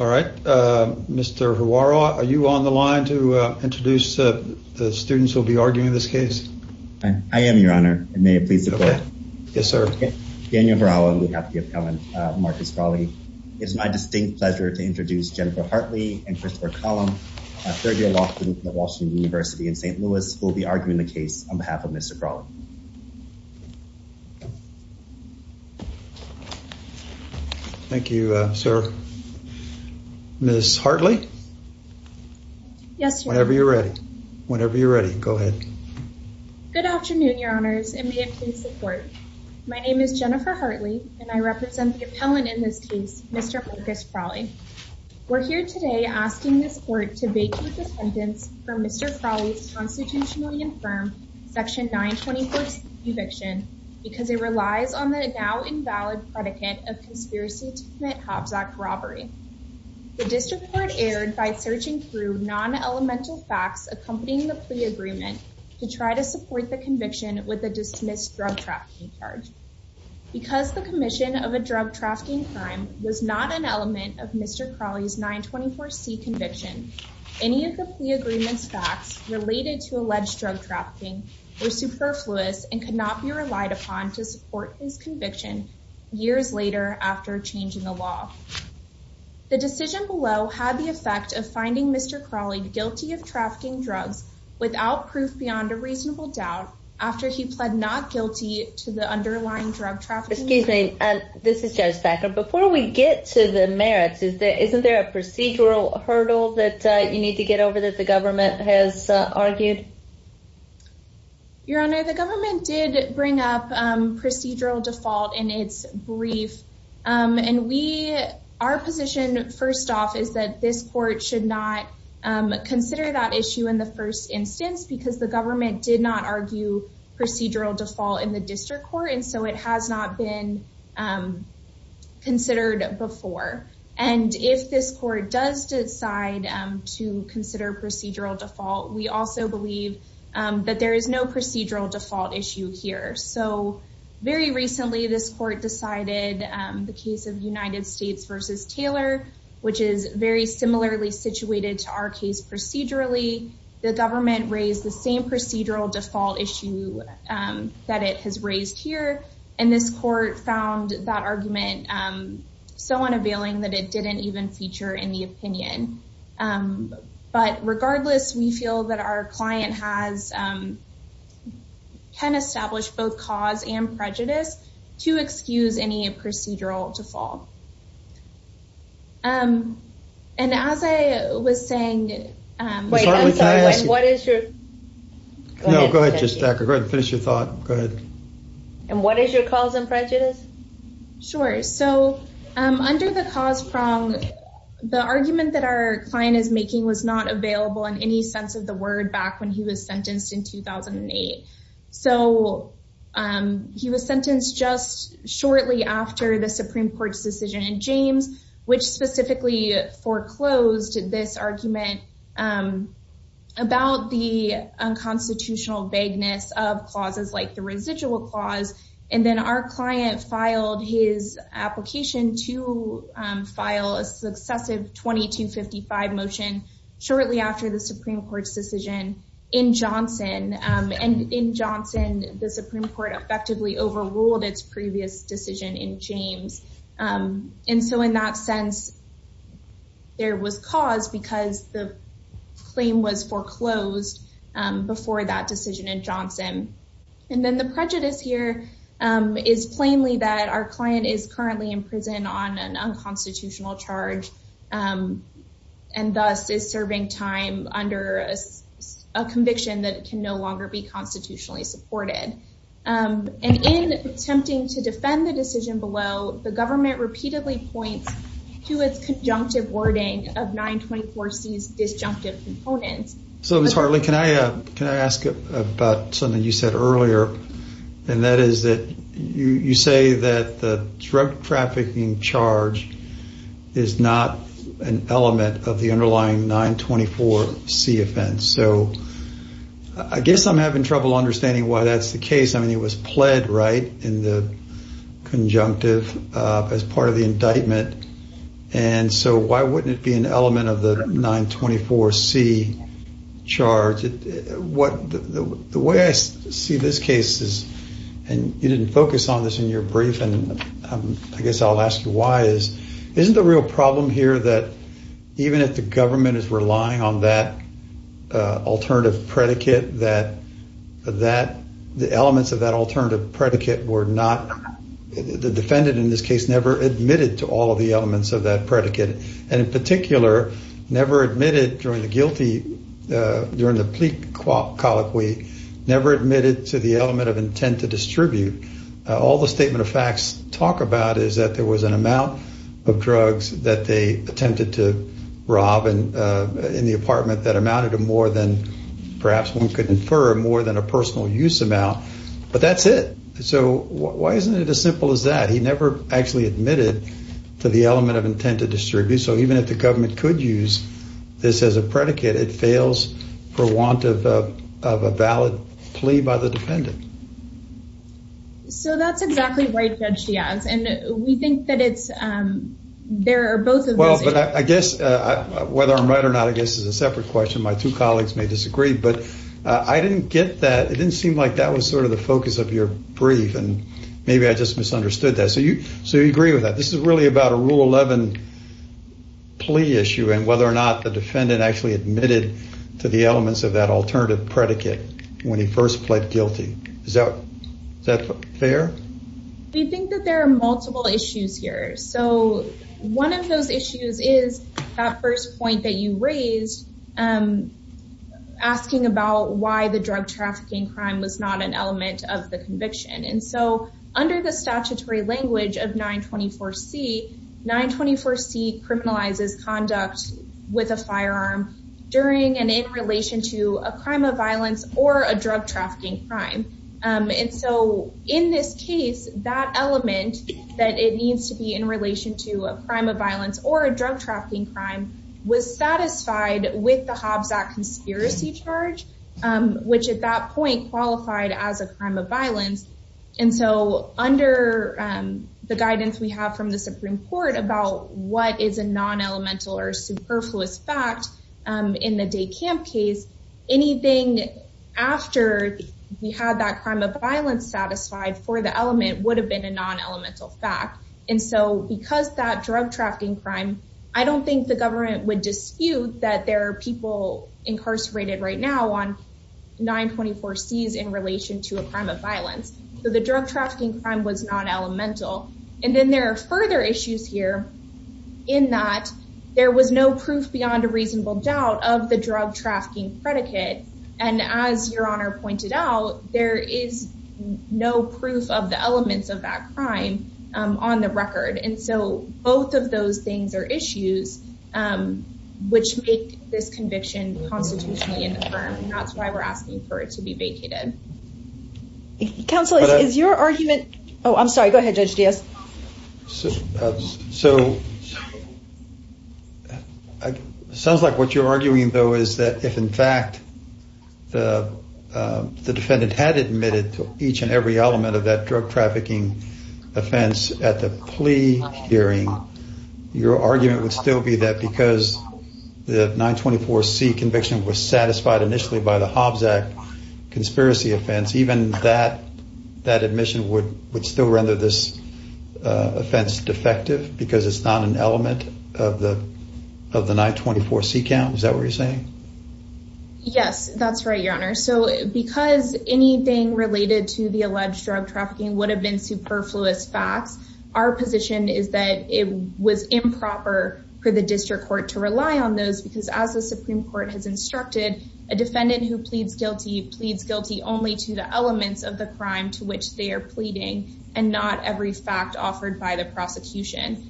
All right, Mr. Huara, are you on the line to introduce the students who will be arguing this case? I am, your honor, and may it please the court. Yes, sir. Daniel Huara, on behalf of the appellant Marcus Crawley, it is my distinct pleasure to introduce Jennifer Hartley and Christopher Collum, a third-year law student at Washington University in St. Louis, who will be arguing the case on behalf of Mr. Crawley. Thank you, sir. Ms. Hartley? Yes, sir. Whenever you're ready. Whenever you're ready. Go ahead. Good afternoon, your honors, and may it please the court. My name is Jennifer Hartley, and I represent the appellant in this case, Mr. Marcus Crawley. We're here today asking this court to vacate the sentence for Mr. Crawley's constitutionally infirm Section 924C eviction because it relies on the now-invalid predicate of conspiracy to commit Hobbs Act robbery. The district court erred by searching through non-elemental facts accompanying the plea agreement to try to support the conviction with a dismissed drug trafficking charge. Because the commission of a drug trafficking crime was not an element of Mr. Crawley's 924C conviction, any of the plea agreement's facts related to alleged drug trafficking were superfluous and could not be relied upon to support his conviction years later after changing the law. The decision below had the effect of finding Mr. Crawley guilty of trafficking drugs without proof beyond a reasonable doubt after he pled not guilty to the underlying drug trafficking. Excuse me. This is Judge Packer. Before we get to the merits, isn't there a procedural hurdle that you need to get over that the government has argued? Your honor, the government did bring up procedural default in its brief. Our position, first off, is that this court should not consider that issue in the first instance because the government did not argue procedural default in the district court, and so it has not been considered before. And if this court does decide to consider procedural default, we also believe that there is no procedural default issue here. So very recently, this court decided the case of United States versus Taylor, which is very similarly situated to our case procedurally. The government raised the same procedural default issue that it has raised here, and this court found that argument so unavailing that it didn't even feature in the opinion. But regardless, we feel that our client has, can establish both cause and prejudice to excuse any procedural default. And as I was saying, what is your, no, go ahead, just go ahead and finish your thought. Go ahead. And what is your cause and prejudice? Sure. So under the cause prong, the argument that our client is making was not available in any sense of the word back when he was sentenced in 2008. So he was sentenced just shortly after the Supreme Court's decision in James, which specifically foreclosed this argument about the unconstitutional vagueness of clauses like the residual clause. And then our client filed his application to file a successive 2255 motion shortly after the Supreme Court's decision in Johnson. And in Johnson, the Supreme Court effectively overruled its previous decision in James. And so in that sense, there was cause because the claim was foreclosed before that decision in Johnson. And then the prejudice here is plainly that our client is currently in prison on an unconstitutional charge and thus is serving time under a conviction that can no longer be constitutionally supported. And in attempting to defend the decision below, the government repeatedly points to its conjunctive wording of 924C's disjunctive components. So Ms. Hartley, can I ask about something you said earlier? And that is that you say that the drug trafficking charge is not an element of the underlying 924C offense. So I guess I'm having trouble understanding why that's the case. I mean, it was pled right in the conjunctive as part of the indictment. And so why wouldn't it be an element of the 924C charge? The way I see this case is, and you didn't focus on this in your brief, and I guess I'll ask you why, is isn't the real problem here that even if the government is relying on that alternative predicate, that the elements of that alternative predicate were not, the defendant in this case, never admitted to all of the elements of that predicate, and in particular, never admitted during the plea colloquy, never admitted to the element of intent to distribute. All the statement of facts talk about is that there was an amount of drugs that they attempted to rob in the apartment that amounted to more than, perhaps one could infer, more than a personal use amount. But that's it. So why isn't it as simple as that? So even if the government could use this as a predicate, it fails for want of a valid plea by the defendant. So that's exactly right, Judge Giaz, and we think that there are both of those issues. Well, but I guess, whether I'm right or not, I guess is a separate question. My two colleagues may disagree, but I didn't get that. It didn't seem like that was sort of the focus of your brief, and maybe I just misunderstood that. So you agree with that? This is really about a Rule 11 plea issue and whether or not the defendant actually admitted to the elements of that alternative predicate when he first pled guilty. Is that fair? We think that there are multiple issues here. So one of those issues is that first point that you raised, asking about why the drug trafficking crime was not an element of the conviction. And so under the statutory language of 924C, 924C criminalizes conduct with a firearm during and in relation to a crime of violence or a drug trafficking crime. And so in this case, that element that it needs to be in relation to a crime of violence or a drug trafficking crime was satisfied with the Hobbs Act conspiracy charge, which at that point qualified as a crime of violence. And so under the guidance we have from the Supreme Court about what is a non-elemental or superfluous fact in the Day Camp case, anything after we had that crime of violence satisfied for the element would have been a non-elemental fact. And so because that drug trafficking crime, I don't think the government would dispute that there are people incarcerated right now on 924Cs in relation to a crime of violence. So the drug trafficking crime was not elemental. And then there are further issues here in that there was no proof beyond a reasonable doubt of the drug trafficking predicate. And as Your Honor pointed out, there is no proof of the elements of that crime on the record. And so both of those things are issues which make this conviction constitutionally in the firm. And that's why we're asking for it to be vacated. Counsel, is your argument... Oh, I'm sorry. Go ahead, Judge Diaz. So it sounds like what you're arguing, though, is that if in fact the defendant had admitted to each and every element of that drug trafficking offense at the plea hearing, your argument would still be that because the 924C conviction was satisfied initially by the Hobbs Act conspiracy offense, even that admission would still render this offense defective because it's not an element of the 924C count. Is that what you're saying? Yes, that's right, Your Honor. So because anything related to the alleged drug trafficking would have been superfluous facts, our position is that it was improper for the district court to rely on those because as the Supreme Court has instructed, a defendant who pleads guilty pleads guilty only to the elements of the crime to which they are pleading and not every fact offered by the prosecution.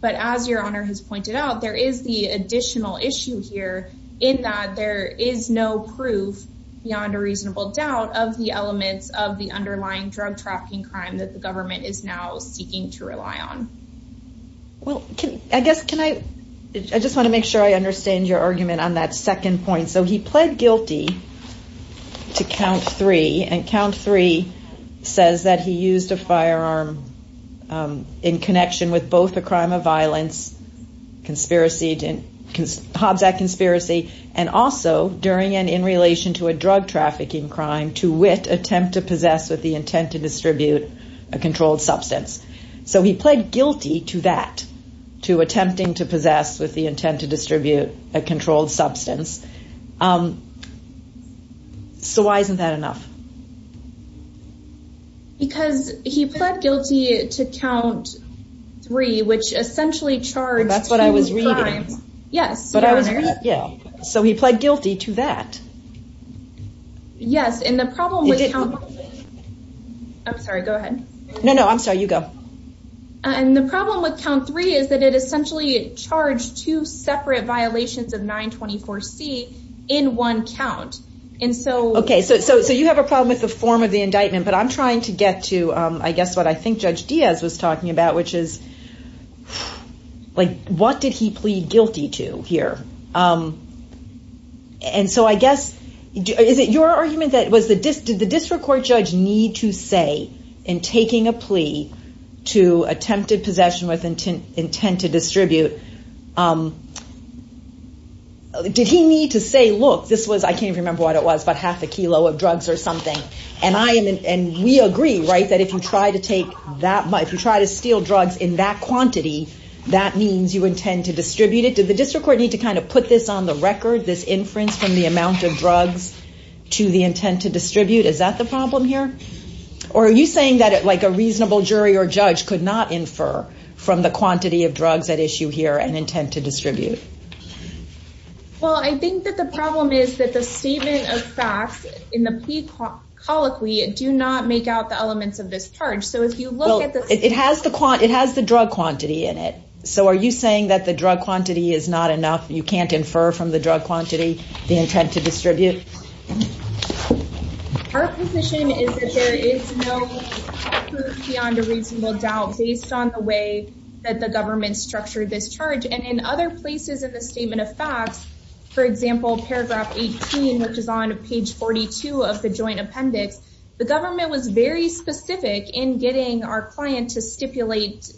But as Your Honor has pointed out, there is the additional issue here in that there is no proof beyond a reasonable doubt of the elements of the underlying drug trafficking crime that the government is now seeking to rely on. I just want to make sure I understand your argument on that second point. So he pled guilty to count three, and count three says that he used a firearm in connection with both the crime of violence, Hobbs Act conspiracy, and also during and in relation to a drug trafficking crime to wit attempt to possess with the intent to distribute a controlled substance. So he pled guilty to that, to attempting to possess with the intent to distribute a controlled substance. So why isn't that enough? Because he pled guilty to count three, which essentially charged two crimes. That's what I was reading. Two crimes, yes, Your Honor. So he pled guilty to that. Yes, and the problem with count... I'm sorry, go ahead. No, no, I'm sorry, you go. And the problem with count three is that it essentially charged two separate violations of 924C in one count. Okay, so you have a problem with the form of the indictment, but I'm trying to get to, I guess, what I think Judge Diaz was talking about, which is, like, what did he plead guilty to here? And so I guess, is it your argument that was the district court judge need to say in taking a plea to attempted possession with intent to distribute, did he need to say, look, this was, I can't even remember what it was, but half a kilo of drugs or something. And we agree, right, that if you try to steal drugs in that quantity, that means you intend to distribute it. Did the district court need to kind of put this on the record, this inference from the amount of drugs to the intent to distribute? Is that the problem here? Or are you saying that, like, a reasonable jury or judge could not infer from the quantity of drugs at issue here and intent to distribute? Well, I think that the problem is that the statement of facts in the plea colloquy do not make out the elements of this charge. So if you look at the… It has the drug quantity in it. So are you saying that the drug quantity is not enough, you can't infer from the drug quantity the intent to distribute? Our position is that there is no proof beyond a reasonable doubt based on the way that the government structured this charge. And in other places in the statement of facts, for example, paragraph 18, which is on page 42 of the joint appendix, the government was very specific in getting our client to stipulate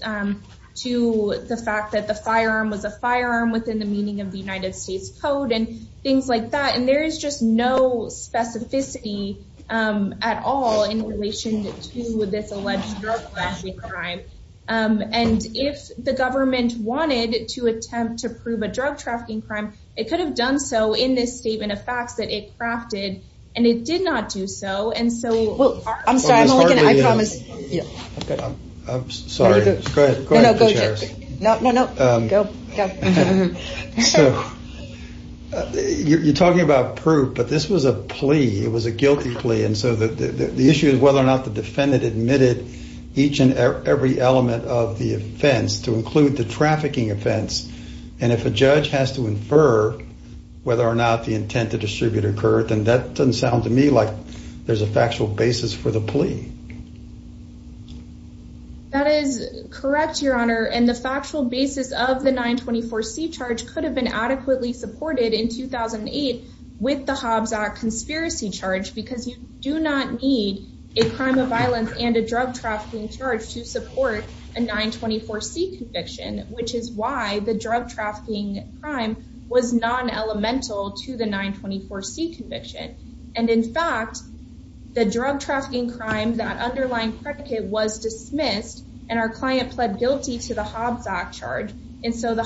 to the fact that the firearm was a firearm within the meaning of the United States Code and things like that. And there is just no specificity at all in relation to this alleged drug-clashing crime. And if the government wanted to attempt to prove a drug-trafficking crime, it could have done so in this statement of facts that it crafted, and it did not do so. And so… Well, I'm sorry. I'm only going to… I promise. I'm sorry. Go ahead. No, no. Go. You're talking about proof, but this was a plea. It was a guilty plea. And so the issue is whether or not the defendant admitted each and every element of the offense to include the trafficking offense. And if a judge has to infer whether or not the intent to distribute occurred, then that doesn't sound to me like there's a factual basis for the plea. That is correct, Your Honor. And the factual basis of the 924C charge could have been adequately supported in 2008 with the Hobbs Act conspiracy charge, because you do not need a crime of violence and a drug-trafficking charge to support a 924C conviction, which is why the drug-trafficking crime was non-elemental to the 924C conviction. And, in fact, the drug-trafficking crime, that underlying predicate was dismissed, and our client pled guilty to the Hobbs Act charge. And so the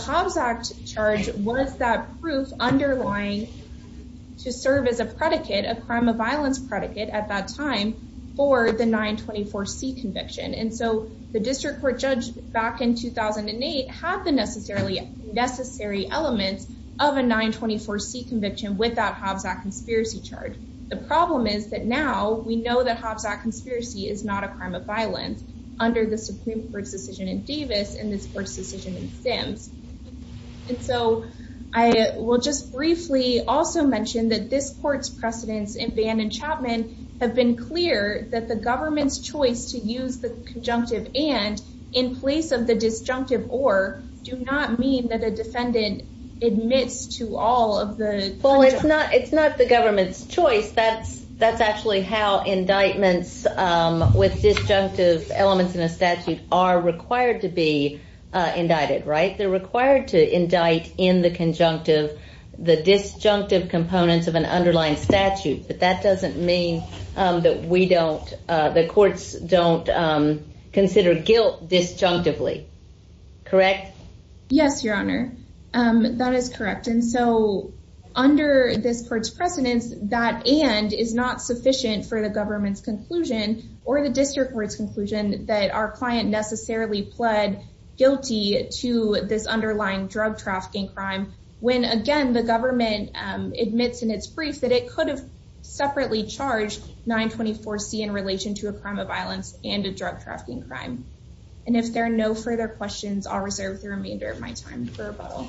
district court judge back in 2008 had the necessary elements of a 924C conviction without Hobbs Act conspiracy charge. The problem is that now we know that Hobbs Act conspiracy is not a crime of violence under the Supreme Court's decision in Davis and this court's decision in Sims. And so I will just briefly also mention that this court's precedence in Bannon-Chapman have been clear that the government's choice to use the conjunctive and in place of the disjunctive or do not mean that a defendant admits to all of the... Well, it's not the government's choice. That's actually how indictments with disjunctive elements in a statute are required to be indicted, right? They're required to indict in the conjunctive the disjunctive components of an underlying statute. But that doesn't mean that the courts don't consider guilt disjunctively. Correct? Yes, Your Honor. That is correct. And so under this court's precedence, that and is not sufficient for the government's conclusion or the district court's conclusion that our client necessarily pled guilty to this underlying drug-trafficking crime when, again, the government admits in its brief that it could have separately charged 924C in relation to a crime of violence and a drug-trafficking crime. And if there are no further questions, I'll reserve the remainder of my time for rebuttal.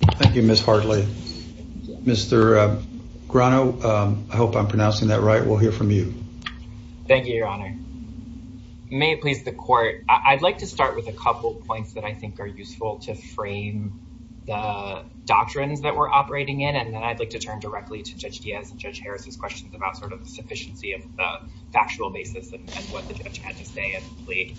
Thank you, Ms. Hartley. Mr. Grano, I hope I'm pronouncing that right. We'll hear from you. Thank you, Your Honor. May it please the court, I'd like to start with a couple of points that I think are relevant to the doctrines that we're operating in, and then I'd like to turn directly to Judge Diaz and Judge Harris's questions about sort of the sufficiency of the factual basis of what the judge had to say in the plea.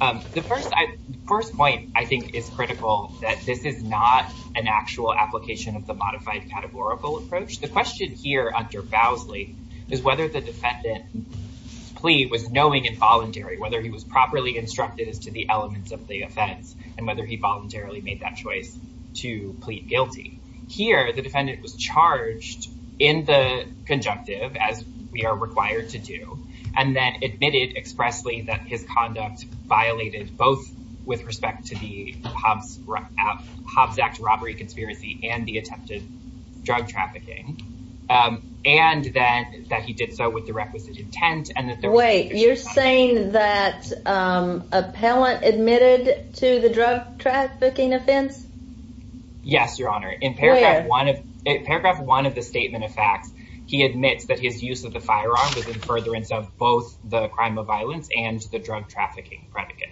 The first point I think is critical, that this is not an actual application of the modified categorical approach. The question here under Bowsley is whether the defendant's plea was knowing and voluntary, whether he was properly instructed as to the elements of the plea to plead guilty. Here, the defendant was charged in the conjunctive, as we are required to do, and then admitted expressly that his conduct violated both with respect to the Hobbs Act robbery conspiracy and the attempted drug trafficking, and that he did so with the requisite intent. Wait, you're saying that an appellant admitted to the drug-trafficking offense? Yes, Your Honor. Where? In paragraph one of the statement of facts, he admits that his use of the firearm was in furtherance of both the crime of violence and the drug trafficking predicate.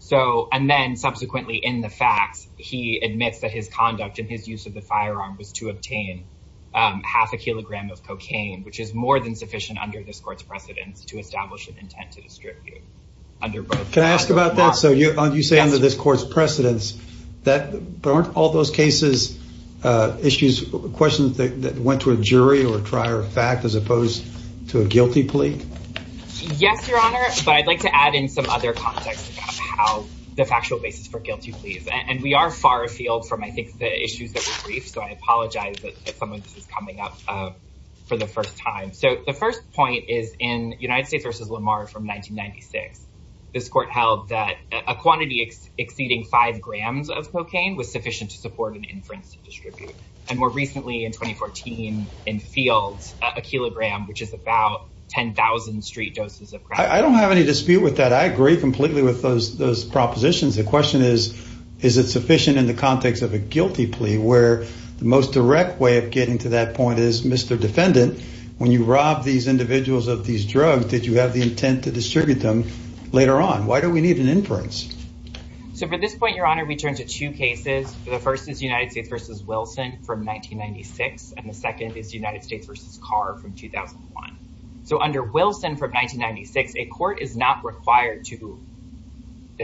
So, and then subsequently in the facts, he admits that his conduct and his use of the firearm was to obtain half a kilogram of cocaine, which is more than sufficient under this court's precedence to establish an intent to distribute under both. Can I ask about that? So, you say under this court's precedence, but aren't all those cases, issues, questions that went to a jury or a trier of fact as opposed to a guilty plea? Yes, Your Honor, but I'd like to add in some other context about how the factual basis for guilty pleas. And we are far afield from, I think, the issues that were briefed, so I apologize if someone is coming up for the first time. So, the first point is in United States versus Lamar from 1996. This court held that a quantity exceeding five grams of cocaine was sufficient to support an inference to distribute. And more recently in 2014, in field, a kilogram, which is about 10,000 street doses of crack. I don't have any dispute with that. I agree completely with those propositions. The question is, is it sufficient in the context of a guilty plea where the most direct way of getting to that point is, Mr. Defendant, when you robbed these individuals of these drugs, did you have the intent to distribute them later on? Why do we need an inference? So, for this point, Your Honor, we turn to two cases. The first is United States versus Wilson from 1996, and the second is United States versus Carr from 2001. So, under Wilson from 1996, a court is not required to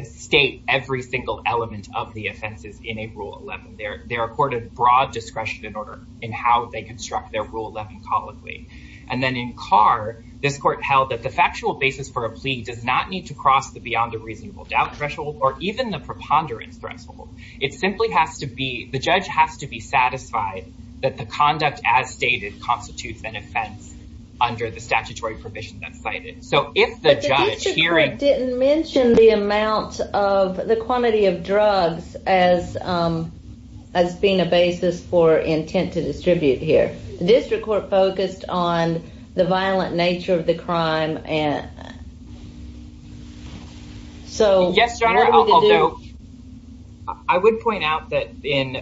state every single element of the offenses in a Rule 11. They're accorded broad discretion in order in how they construct their Rule 11 colloquy. And then in Carr, this court held that the factual basis for a plea does not need to cross the beyond a reasonable doubt threshold or even the preponderance threshold. It simply has to be, the judge has to be satisfied that the conduct as stated constitutes an offense under the statutory provision that's cited. So, if the judge here... But the district court didn't mention the amount of, the quantity of drugs as being a basis for intent to distribute here. The district court focused on the violent nature of the crime, and so... Yes, Your Honor, although I would point out that in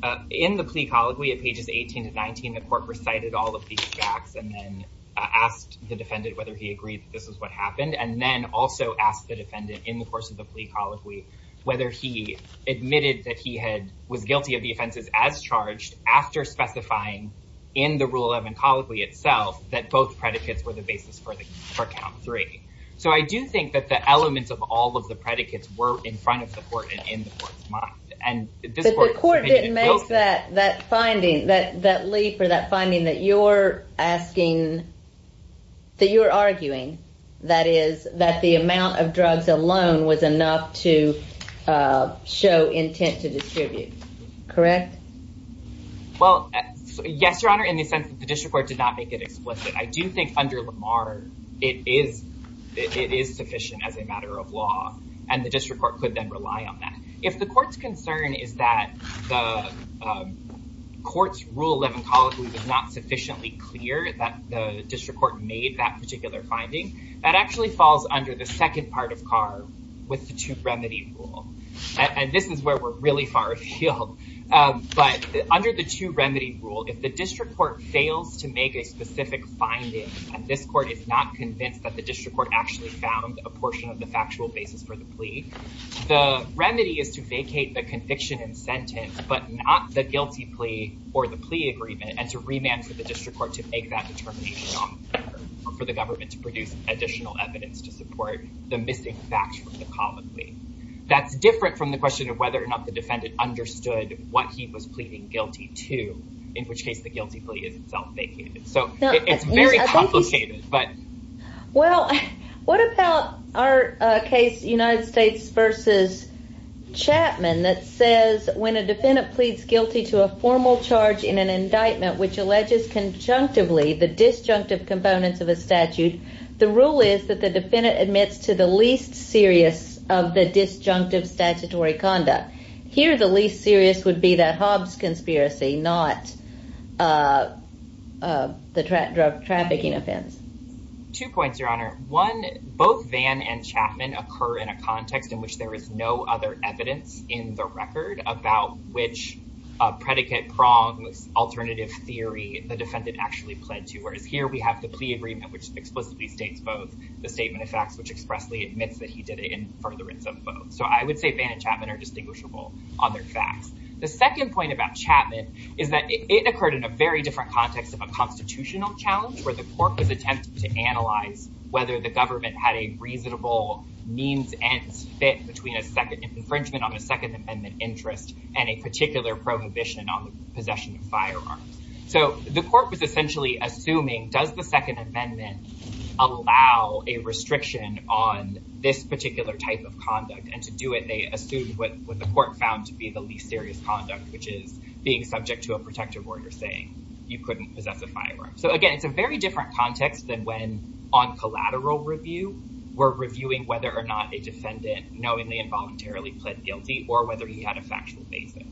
the plea colloquy at pages 18 to 19, the court recited all of these facts and then asked the defendant whether he agreed that this is what happened, and then also asked the defendant in the course of the plea colloquy whether he admitted that he was guilty of the offenses as charged after specifying in the Rule 11 colloquy itself that both predicates were the basis for count three. So, I do think that the elements of all of the predicates were in front of the court and in the court's mind. But the court didn't make that finding, that leap or that finding that you're asking, that you're arguing, that is, that the amount of drugs alone was enough to show intent to distribute, correct? Well, yes, Your Honor, in the sense that the district court did not make it explicit. I do think under Lamar, it is sufficient as a matter of law, and the district court could then rely on that. If the court's concern is that the court's Rule 11 colloquy was not sufficiently clear that the district court made that particular finding, that actually falls under the second part of Carr with the two-remedy rule. And this is where we're really far afield. But under the two-remedy rule, if the district court fails to make a specific finding, and this court is not convinced that the district court actually found a portion of the factual basis for the plea, the remedy is to vacate the conviction and sentence, but not the guilty plea or the plea agreement, and to remand for the district court to make that determination for the government to request additional evidence to support the missing facts from the common plea. That's different from the question of whether or not the defendant understood what he was pleading guilty to, in which case the guilty plea is itself vacated. So it's very complicated. Well, what about our case, United States versus Chapman, that says, when a defendant pleads guilty to a formal charge in an indictment which alleges conjunctively the disjunctive components of a statute, the rule is that the defendant admits to the least serious of the disjunctive statutory conduct. Here, the least serious would be the Hobbs conspiracy, not the trafficking offense. Two points, Your Honor. One, both Vann and Chapman occur in a context in which there is no other theory the defendant actually pled to, whereas here we have the plea agreement, which explicitly states both the statement of facts, which expressly admits that he did it in furtherance of both. So I would say Vann and Chapman are distinguishable on their facts. The second point about Chapman is that it occurred in a very different context of a constitutional challenge, where the court was attempting to analyze whether the government had a reasonable means and fit between an infringement on a Second Amendment firearm. So the court was essentially assuming, does the Second Amendment allow a restriction on this particular type of conduct? And to do it, they assumed what the court found to be the least serious conduct, which is being subject to a protective order saying you couldn't possess a firearm. So again, it's a very different context than when, on collateral review, we're reviewing whether or not a defendant knowingly and voluntarily pled guilty or whether he had a factual basis.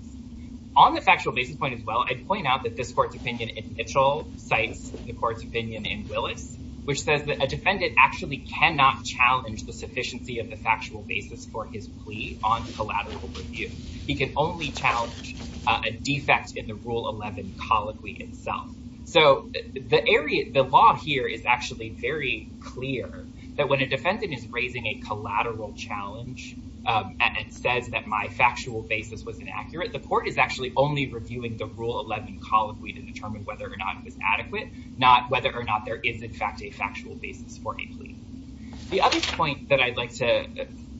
On the factual basis point as well, I'd point out that this court's opinion in Mitchell cites the court's opinion in Willis, which says that a defendant actually cannot challenge the sufficiency of the factual basis for his plea on collateral review. He can only challenge a defect in the Rule 11 colloquy itself. So the law here is actually very clear that when a defendant is raising a claim, the court is actually only reviewing the Rule 11 colloquy to determine whether or not it was adequate, not whether or not there is in fact a factual basis for a plea. The other point that I'd like to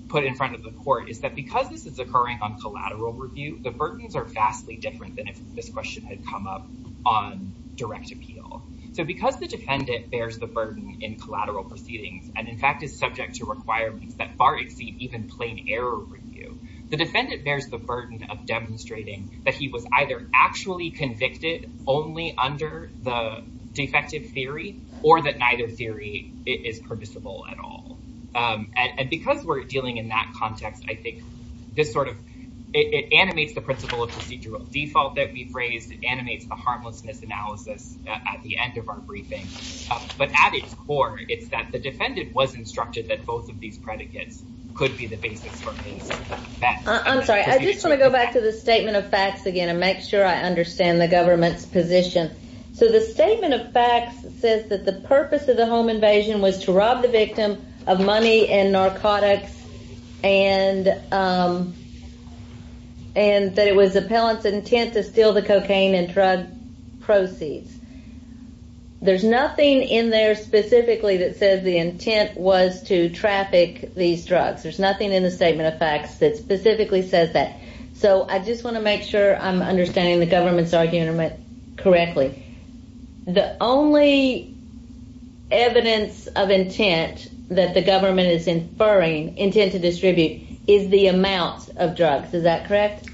put in front of the court is that because this is occurring on collateral review, the burdens are vastly different than if this question had come up on direct appeal. So because the defendant bears the burden in collateral proceedings and in fact is subject to requirements that far exceed even plain error review, the defendant bears the burden of demonstrating that he was either actually convicted only under the defective theory or that neither theory is permissible at all. And because we're dealing in that context, I think this sort of, it animates the principle of procedural default that we've raised. It animates the harmlessness analysis at the end of our briefing. But at its core, it's that the defendant was instructed that both of these I just want to go back to the statement of facts again and make sure I understand the government's position. So the statement of facts says that the purpose of the home invasion was to rob the victim of money and narcotics and that it was the appellant's intent to steal the cocaine and drug proceeds. There's nothing in there specifically that says the intent was to traffic these drugs. There's nothing in the statement of facts that specifically says that. So I just want to make sure I'm understanding the government's argument correctly. The only evidence of intent that the government is inferring, intent to distribute, is the amount of drugs. Is that correct?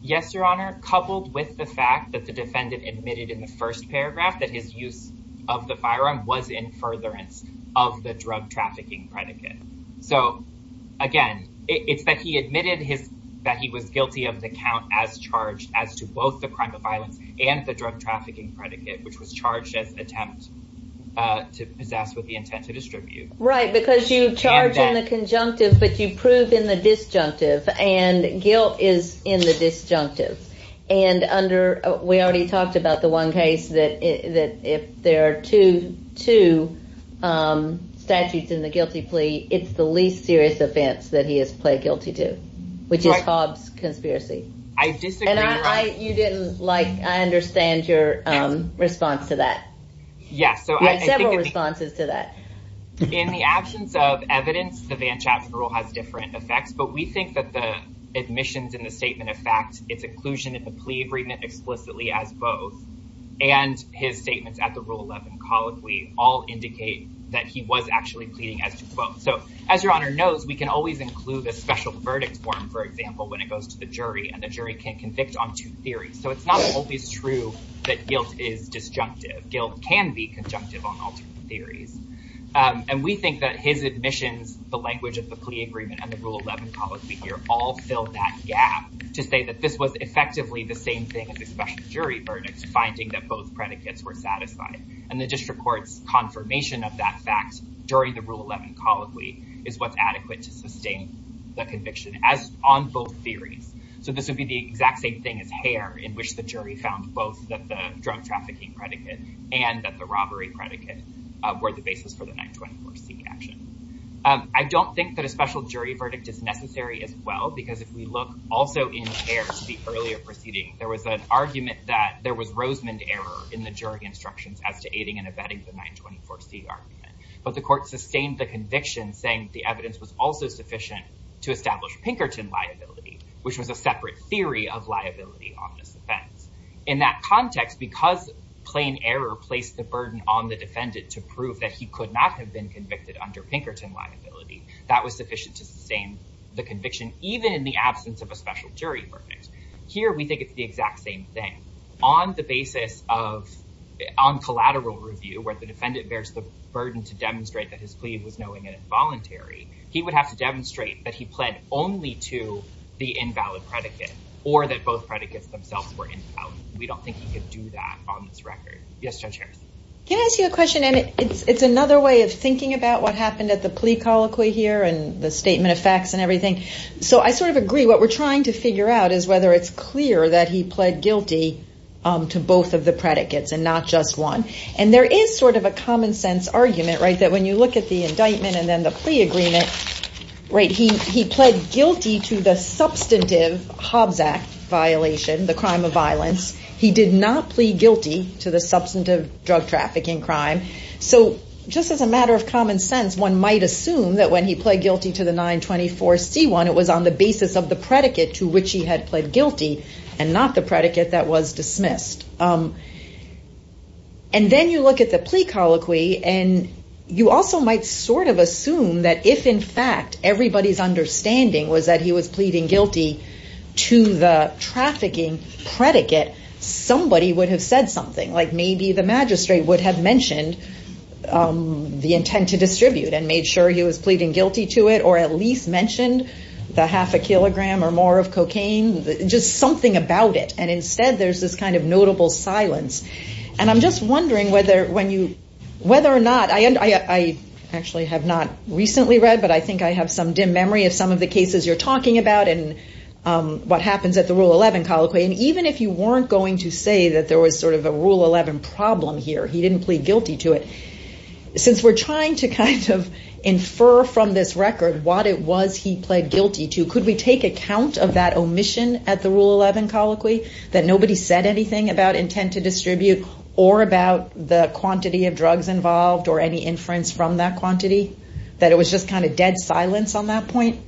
Yes, Your Honor, coupled with the fact that the defendant admitted in the first paragraph that his use of the firearm was in furtherance of the drug trafficking predicate. So, again, it's that he admitted that he was guilty of the count as charged as to both the crime of violence and the drug trafficking predicate, which was charged as attempt to possess with the intent to distribute. Right, because you charge in the conjunctive, but you prove in the disjunctive. And guilt is in the disjunctive. And under we already talked about the one case that if there are two statutes in the guilty plea, it's the least serious offense that he has pled guilty to, which is Hobbs conspiracy. I disagree. And I, you didn't like, I understand your response to that. Yes. So I had several responses to that. In the absence of evidence, the Van Chaps rule has different effects, but we think that the admissions in the statement of facts, its inclusion in the plea agreement explicitly as both and his statements at the So as your honor knows, we can always include a special verdict form, for example, when it goes to the jury and the jury can convict on two theories. So it's not always true that guilt is disjunctive. Guilt can be conjunctive on alternate theories. And we think that his admissions, the language of the plea agreement and the rule 11 policy here all fill that gap to say that this was effectively the same thing as a special jury verdict, finding that both predicates were satisfied. And the district court's confirmation of that fact during the rule 11 colloquy is what's adequate to sustain the conviction as on both theories. So this would be the exact same thing as hair in which the jury found both that the drug trafficking predicate and that the robbery predicate were the basis for the 924 C action. I don't think that a special jury verdict is necessary as well, because if we look also in there to the earlier proceeding, there was an argument that there was Rosemond error in the jury instructions as to aiding and abetting the 924 C argument. But the court sustained the conviction saying the evidence was also sufficient to establish Pinkerton liability, which was a separate theory of liability on this offense. In that context, because plain error placed the burden on the defendant to prove that he could not have been convicted under Pinkerton liability, that was sufficient to sustain the conviction, even in the absence of a special jury verdict. Here we think it's the exact same thing. On the basis of, on collateral review where the defendant bears the burden to demonstrate that his plea was knowing and involuntary, he would have to demonstrate that he pled only to the invalid predicate or that both predicates themselves were invalid. We don't think he could do that on this record. Yes, Judge Harris. Can I ask you a question? And it's, it's another way of thinking about what happened at the plea colloquy here and the statement of facts and everything. So I sort of agree. What we're trying to figure out is whether it's clear that he pled guilty to both of the predicates and not just one. And there is sort of a common sense argument, right? That when you look at the indictment and then the plea agreement, right? He, he pled guilty to the substantive Hobbs Act violation, the crime of violence. He did not plead guilty to the substantive drug trafficking crime. So just as a matter of common sense, one might assume that when he pled guilty to the 924 C1, it was on the basis of the predicate to which he had pled guilty and not the predicate that was dismissed. And then you look at the plea colloquy and you also might sort of assume that if in fact everybody's understanding was that he was pleading guilty to the trafficking predicate, somebody would have said something like maybe the magistrate would have mentioned the intent to distribute and made sure he was pleading guilty to it or at least mentioned the half a kilogram or more of cocaine, just something about it. And instead there's this kind of notable silence. And I'm just wondering whether when you, whether or not, I actually have not recently read, but I think I have some dim memory of some of the cases you're talking about and what happens at the Rule 11 colloquy. And even if you weren't going to say that there was sort of a Rule 11 problem here, he didn't plead guilty to it. Since we're trying to kind of infer from this record what it was he pled guilty to, could we take account of that omission at the Rule 11 colloquy, that nobody said anything about intent to distribute or about the quantity of drugs involved or any inference from that quantity, that it was just kind of dead silence on that point?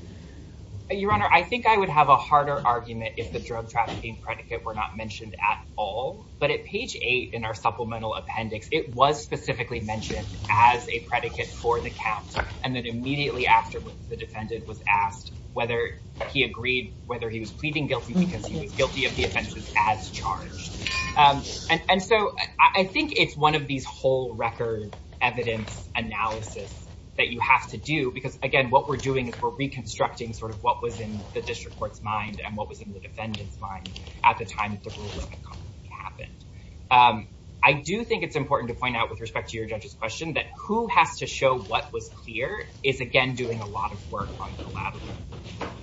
Your Honor, I think I would have a harder argument if the drug trafficking predicate were not mentioned at all. But at page eight in our supplemental appendix, it was specifically mentioned as a predicate for the count. And then immediately after the defendant was asked whether he agreed, whether he was pleading guilty because he was guilty of the offenses as charged. And so I think it's one of these whole record evidence analysis that you have to do, because again, what we're doing is we're reconstructing sort of what was in the district court's mind and what was in the defendant's mind at the time of the call that happened. I do think it's important to point out with respect to your judge's question that who has to show what was clear is again, doing a lot of work on collaborative.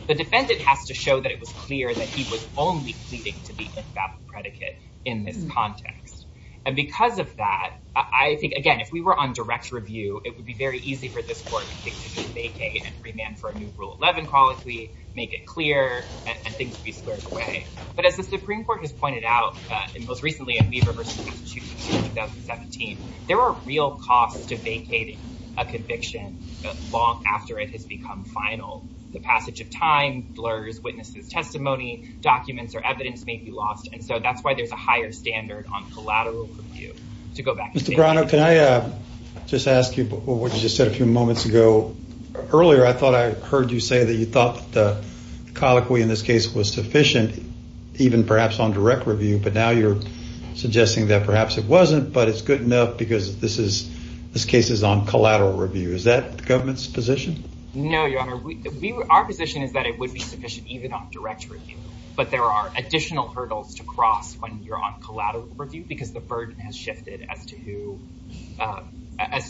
The defendant has to show that it was clear that he was only pleading to the infallible predicate in this context. And because of that, I think, again, if we were on direct review, it would be very easy for this court to take a vacay and remand for a new Rule 11 colloquy, make it clear and things be slurred away. But as the Supreme Court has pointed out, and most recently in Weber v. Institute in 2017, there are real costs to vacating a conviction long after it has become final. The passage of time, blurs, witnesses, testimony, documents or evidence may be lost. And so that's why there's a higher standard on collateral review to go back. Mr. Brown, can I just ask you, what you just said a few moments ago earlier, I thought I heard you say that you thought the colloquy in this case was sufficient, even perhaps on direct review, but now you're suggesting that perhaps it wasn't, but it's good enough because this case is on collateral review. Is that the government's position? No, Your Honor. Our position is that it would be sufficient even on direct review, but there are additional hurdles to cross when you're on collateral review because the burden has shifted as to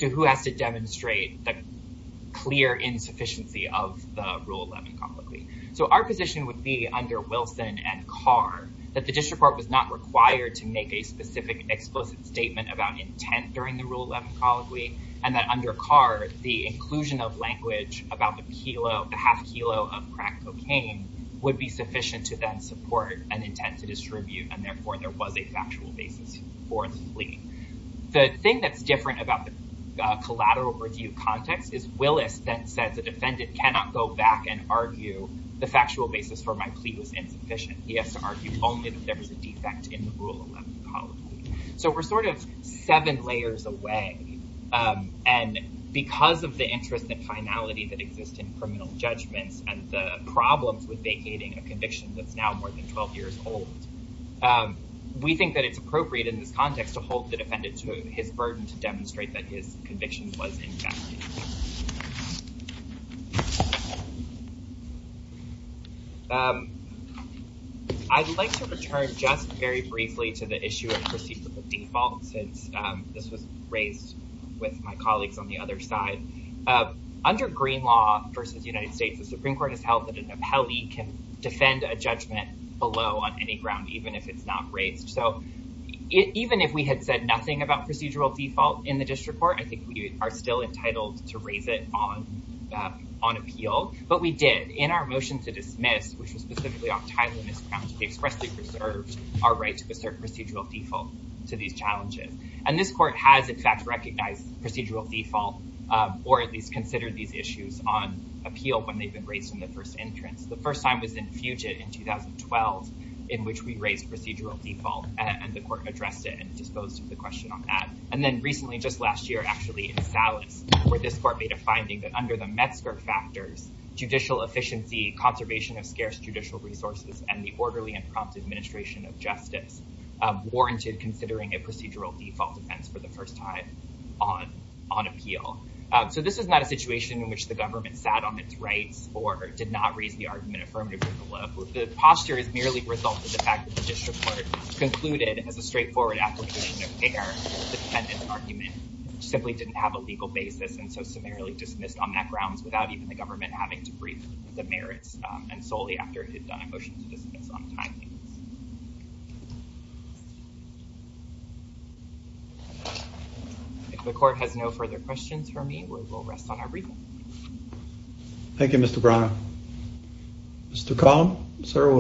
who has to demonstrate the clear insufficiency of the Rule 11 colloquy. So our position would be under Wilson and Carr, that the district court was not required to make a specific explicit statement about intent during the Rule 11 colloquy and that under Carr, the inclusion of language about the kilo, the half kilo of crack cocaine would be sufficient to then support an intent to distribute. And therefore there was a factual basis for the plea. The thing that's different about the collateral review context is Willis then said the defendant cannot go back and argue the factual basis for my plea was insufficient. He has to argue only that there was a defect in the Rule 11 colloquy. So we're sort of seven layers away. And because of the interest and finality that exists in criminal judgments and the problems with vacating a conviction that's now more than 12 years old, we think that it's appropriate in this context to hold the defendant to his burden to demonstrate that his conviction was in fact. I'd like to return just very briefly to the issue of procedural default. Since this was raised with my colleagues on the other side, under green law versus United States, the Supreme court has held that an appellee can defend a judgment below on any ground, even if it's not raised. So even if we had said nothing about procedural default in the district court, I think we are still entitled to raise it on, on appeal, but we did in our motion to dismiss, which was specifically off title and is found to be expressly preserved our right to assert procedural default to these challenges. And this court has in fact, recognize procedural default, or at least consider these issues on appeal when they've been raised in the first entrance. The first time was in future in 2012 in which we raised procedural default and the court addressed it and disposed of the question on that. And then recently, just last year, actually in salads where this court made a finding that under the Metzger factors, judicial efficiency, conservation of scarce judicial resources and the orderly and prompt administration of justice warranted considering a procedural default defense for the first time on, on appeal. So this is not a situation in which the government sat on its rights or did not raise the argument affirmative to the law. The posture is merely result of the fact that the district court concluded as a straightforward application of care, the defendant's argument simply didn't have a legal basis. And so summarily dismissed on that grounds without even the government having to brief the merits and solely after it had done a motion to dismiss on time. If the court has no further questions for me, Thank you, Mr. Brown. Mr. Collin, sir.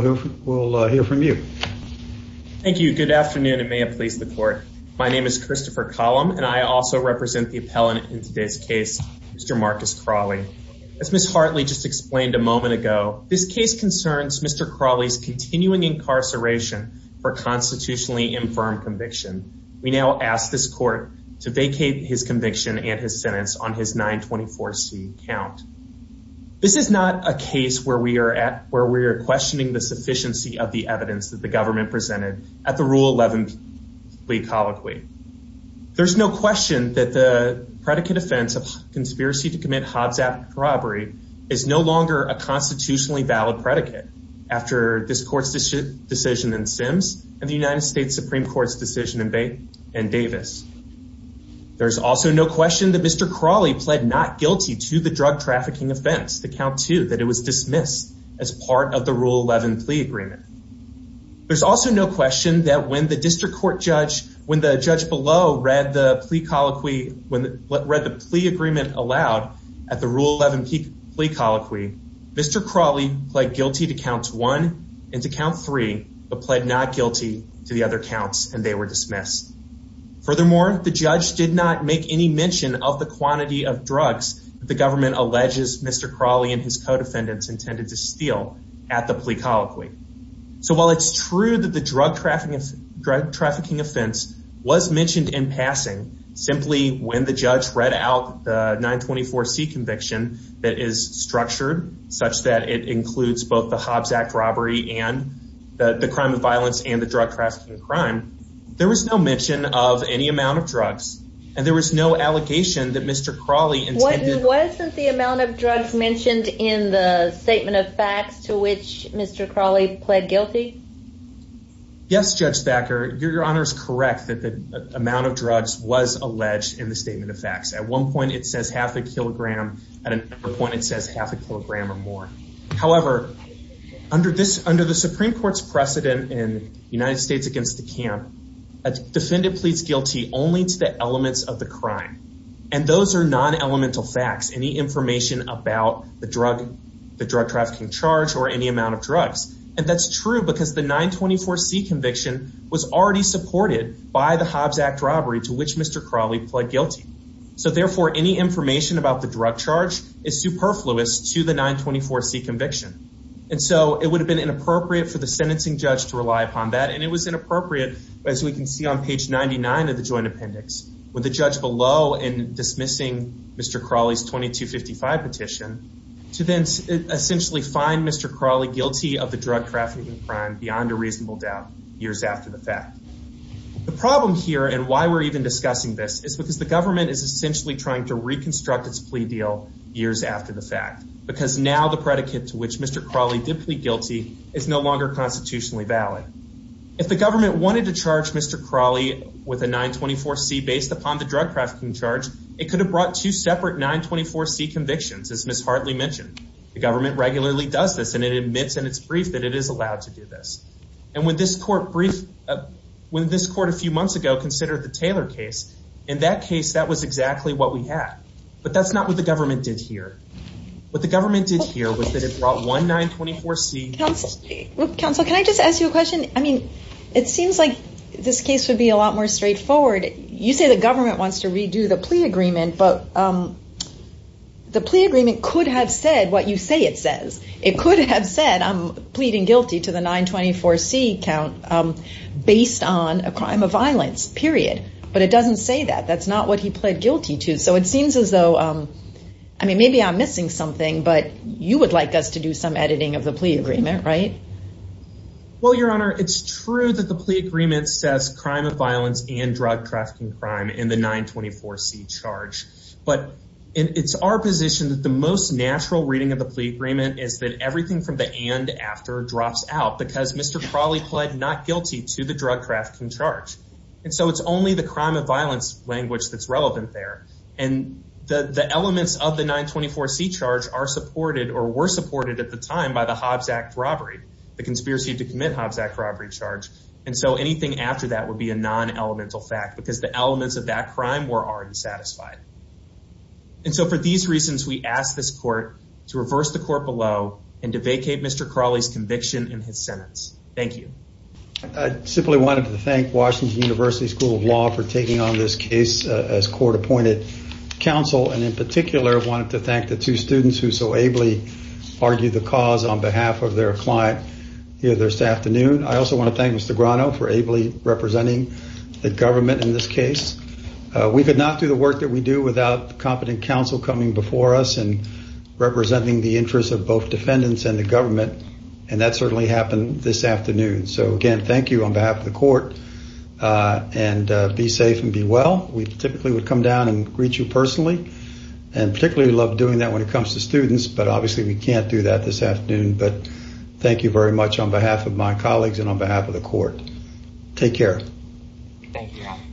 We'll hear from you. Thank you. Good afternoon. It may have pleased the court. My name is Christopher column, and I also represent the appellant in today's case. Mr. Marcus Crawley. As Ms. Hartley just explained a moment ago, this case concerns Mr. Crawley's continuing incarceration for constitutionally infirm conviction. We now ask this court to vacate his conviction and his sentence on his behalf. And we ask this court to vacate his 924 C count. This is not a case where we are at, where we are questioning the sufficiency of the evidence that the government presented at the rule 11. We colloquy. There's no question that the predicate offense of conspiracy to commit Hobbs app. Robbery is no longer a constitutionally valid predicate. After this court's decision in Sims and the United States Supreme court's decision in Bay and Davis. There's also no question that Mr. Crawley pled not guilty to the drug trafficking offense. The count too, that it was dismissed as part of the rule 11 plea agreement. There's also no question that when the district court judge, when the judge below read the plea colloquy, when read the plea agreement allowed at the rule, 11 peak plea colloquy, Mr. Crawley pled guilty to counts one and to count three, But pled not guilty to the other counts. And they were dismissed. Furthermore, the judge did not make any mention of the quantity of drugs. The government alleges Mr. Crawley and his co-defendants intended to steal at the plea colloquy. So while it's true that the drug trafficking, drug trafficking offense was mentioned in passing simply when the judge read out the 924 C conviction that is structured such that it includes both the Hobbs act robbery and the crime of violence and the drug trafficking crime. There was no mention of any amount of drugs and there was no allegation that Mr. Crawley intended. The amount of drugs mentioned in the statement of facts to which Mr. Crawley pled guilty. Yes. Judge Becker, your honor is correct that the amount of drugs was alleged in the statement of facts. At one point it says half a kilogram. At another point, it says half a kilogram or more. However, under this, under the Supreme court's precedent in United States against the camp, a defendant pleads guilty only to the elements of the crime. And those are non-elemental facts. Any information about the drug, the drug trafficking charge or any amount of drugs. And that's true because the 924 C conviction was already supported by the Hobbs act robbery to which Mr. Crawley pled guilty. So therefore any information about the drug charge is superfluous to the 924 C conviction. And so it would have been inappropriate for the sentencing judge to rely upon that. And it was inappropriate, but as we can see on page 99 of the joint appendix with the judge below and dismissing Mr. Crawley's 2255 petition to then essentially find Mr. Crawley guilty of the drug trafficking crime beyond a reasonable doubt years after the fact. The problem here and why we're even discussing this is because the government is essentially trying to reconstruct its plea deal years after the fact, because now the predicate to which Mr. Crawley did plead guilty is no longer constitutionally valid. If the government wanted to charge Mr. Crawley with a 924 C based upon the drug trafficking charge, it could have brought two separate 924 C convictions. As Ms. Hartley mentioned, the government regularly does this and it admits in its brief that it is allowed to do this. And when this court brief, when this court a few months ago considered the Taylor case, in that case, that was exactly what we had, but that's not what the government did here. What the government did here was that it brought one 924 C. Counselor, can I just ask you a question? I mean, it seems like this case would be a lot more straightforward. You say the government wants to redo the plea agreement, but the plea agreement could have said what you say. It says it could have said I'm pleading guilty to the 924 C count based on a crime of violence period, but it doesn't say that that's not what he pled guilty to. So it seems as though, I mean, maybe I'm missing something, but you would like us to do some editing of the plea agreement, right? Well, your honor, it's true that the plea agreement says crime of violence and drug trafficking crime in the 924 C charge, but it's our position that the most natural reading of the plea agreement is that everything from the, and after drops out because Mr. Crawley pled not guilty to the drug trafficking charge. And so it's only the crime of violence language that's relevant there. And the, the elements of the 924 C charge are supported or were supported at the time by the Hobbs act robbery, the conspiracy to commit Hobbs act robbery charge. And so anything after that would be a non elemental fact because the elements of that crime were already satisfied. And so for these reasons, we asked this court to reverse the court below and to vacate Mr. Crawley's conviction in his sentence. Thank you. I simply wanted to thank Washington university school of law for taking on this case as court appointed council. And in particular, I wanted to thank the two students who so ably argue the cause on behalf of their client here this afternoon. I also want to thank Mr. Grano for ably representing the government. In this case, we could not do the work that we do without the competent council coming before us and representing the interests of both defendants and the government. And that certainly happened this afternoon. So again, thank you on behalf of the court and be safe and be well. We typically would come down and greet you personally and particularly love doing that when it comes to students, but obviously we can't do that this afternoon, but thank you very much on behalf of my colleagues and on behalf of the court. Take care. Thank you.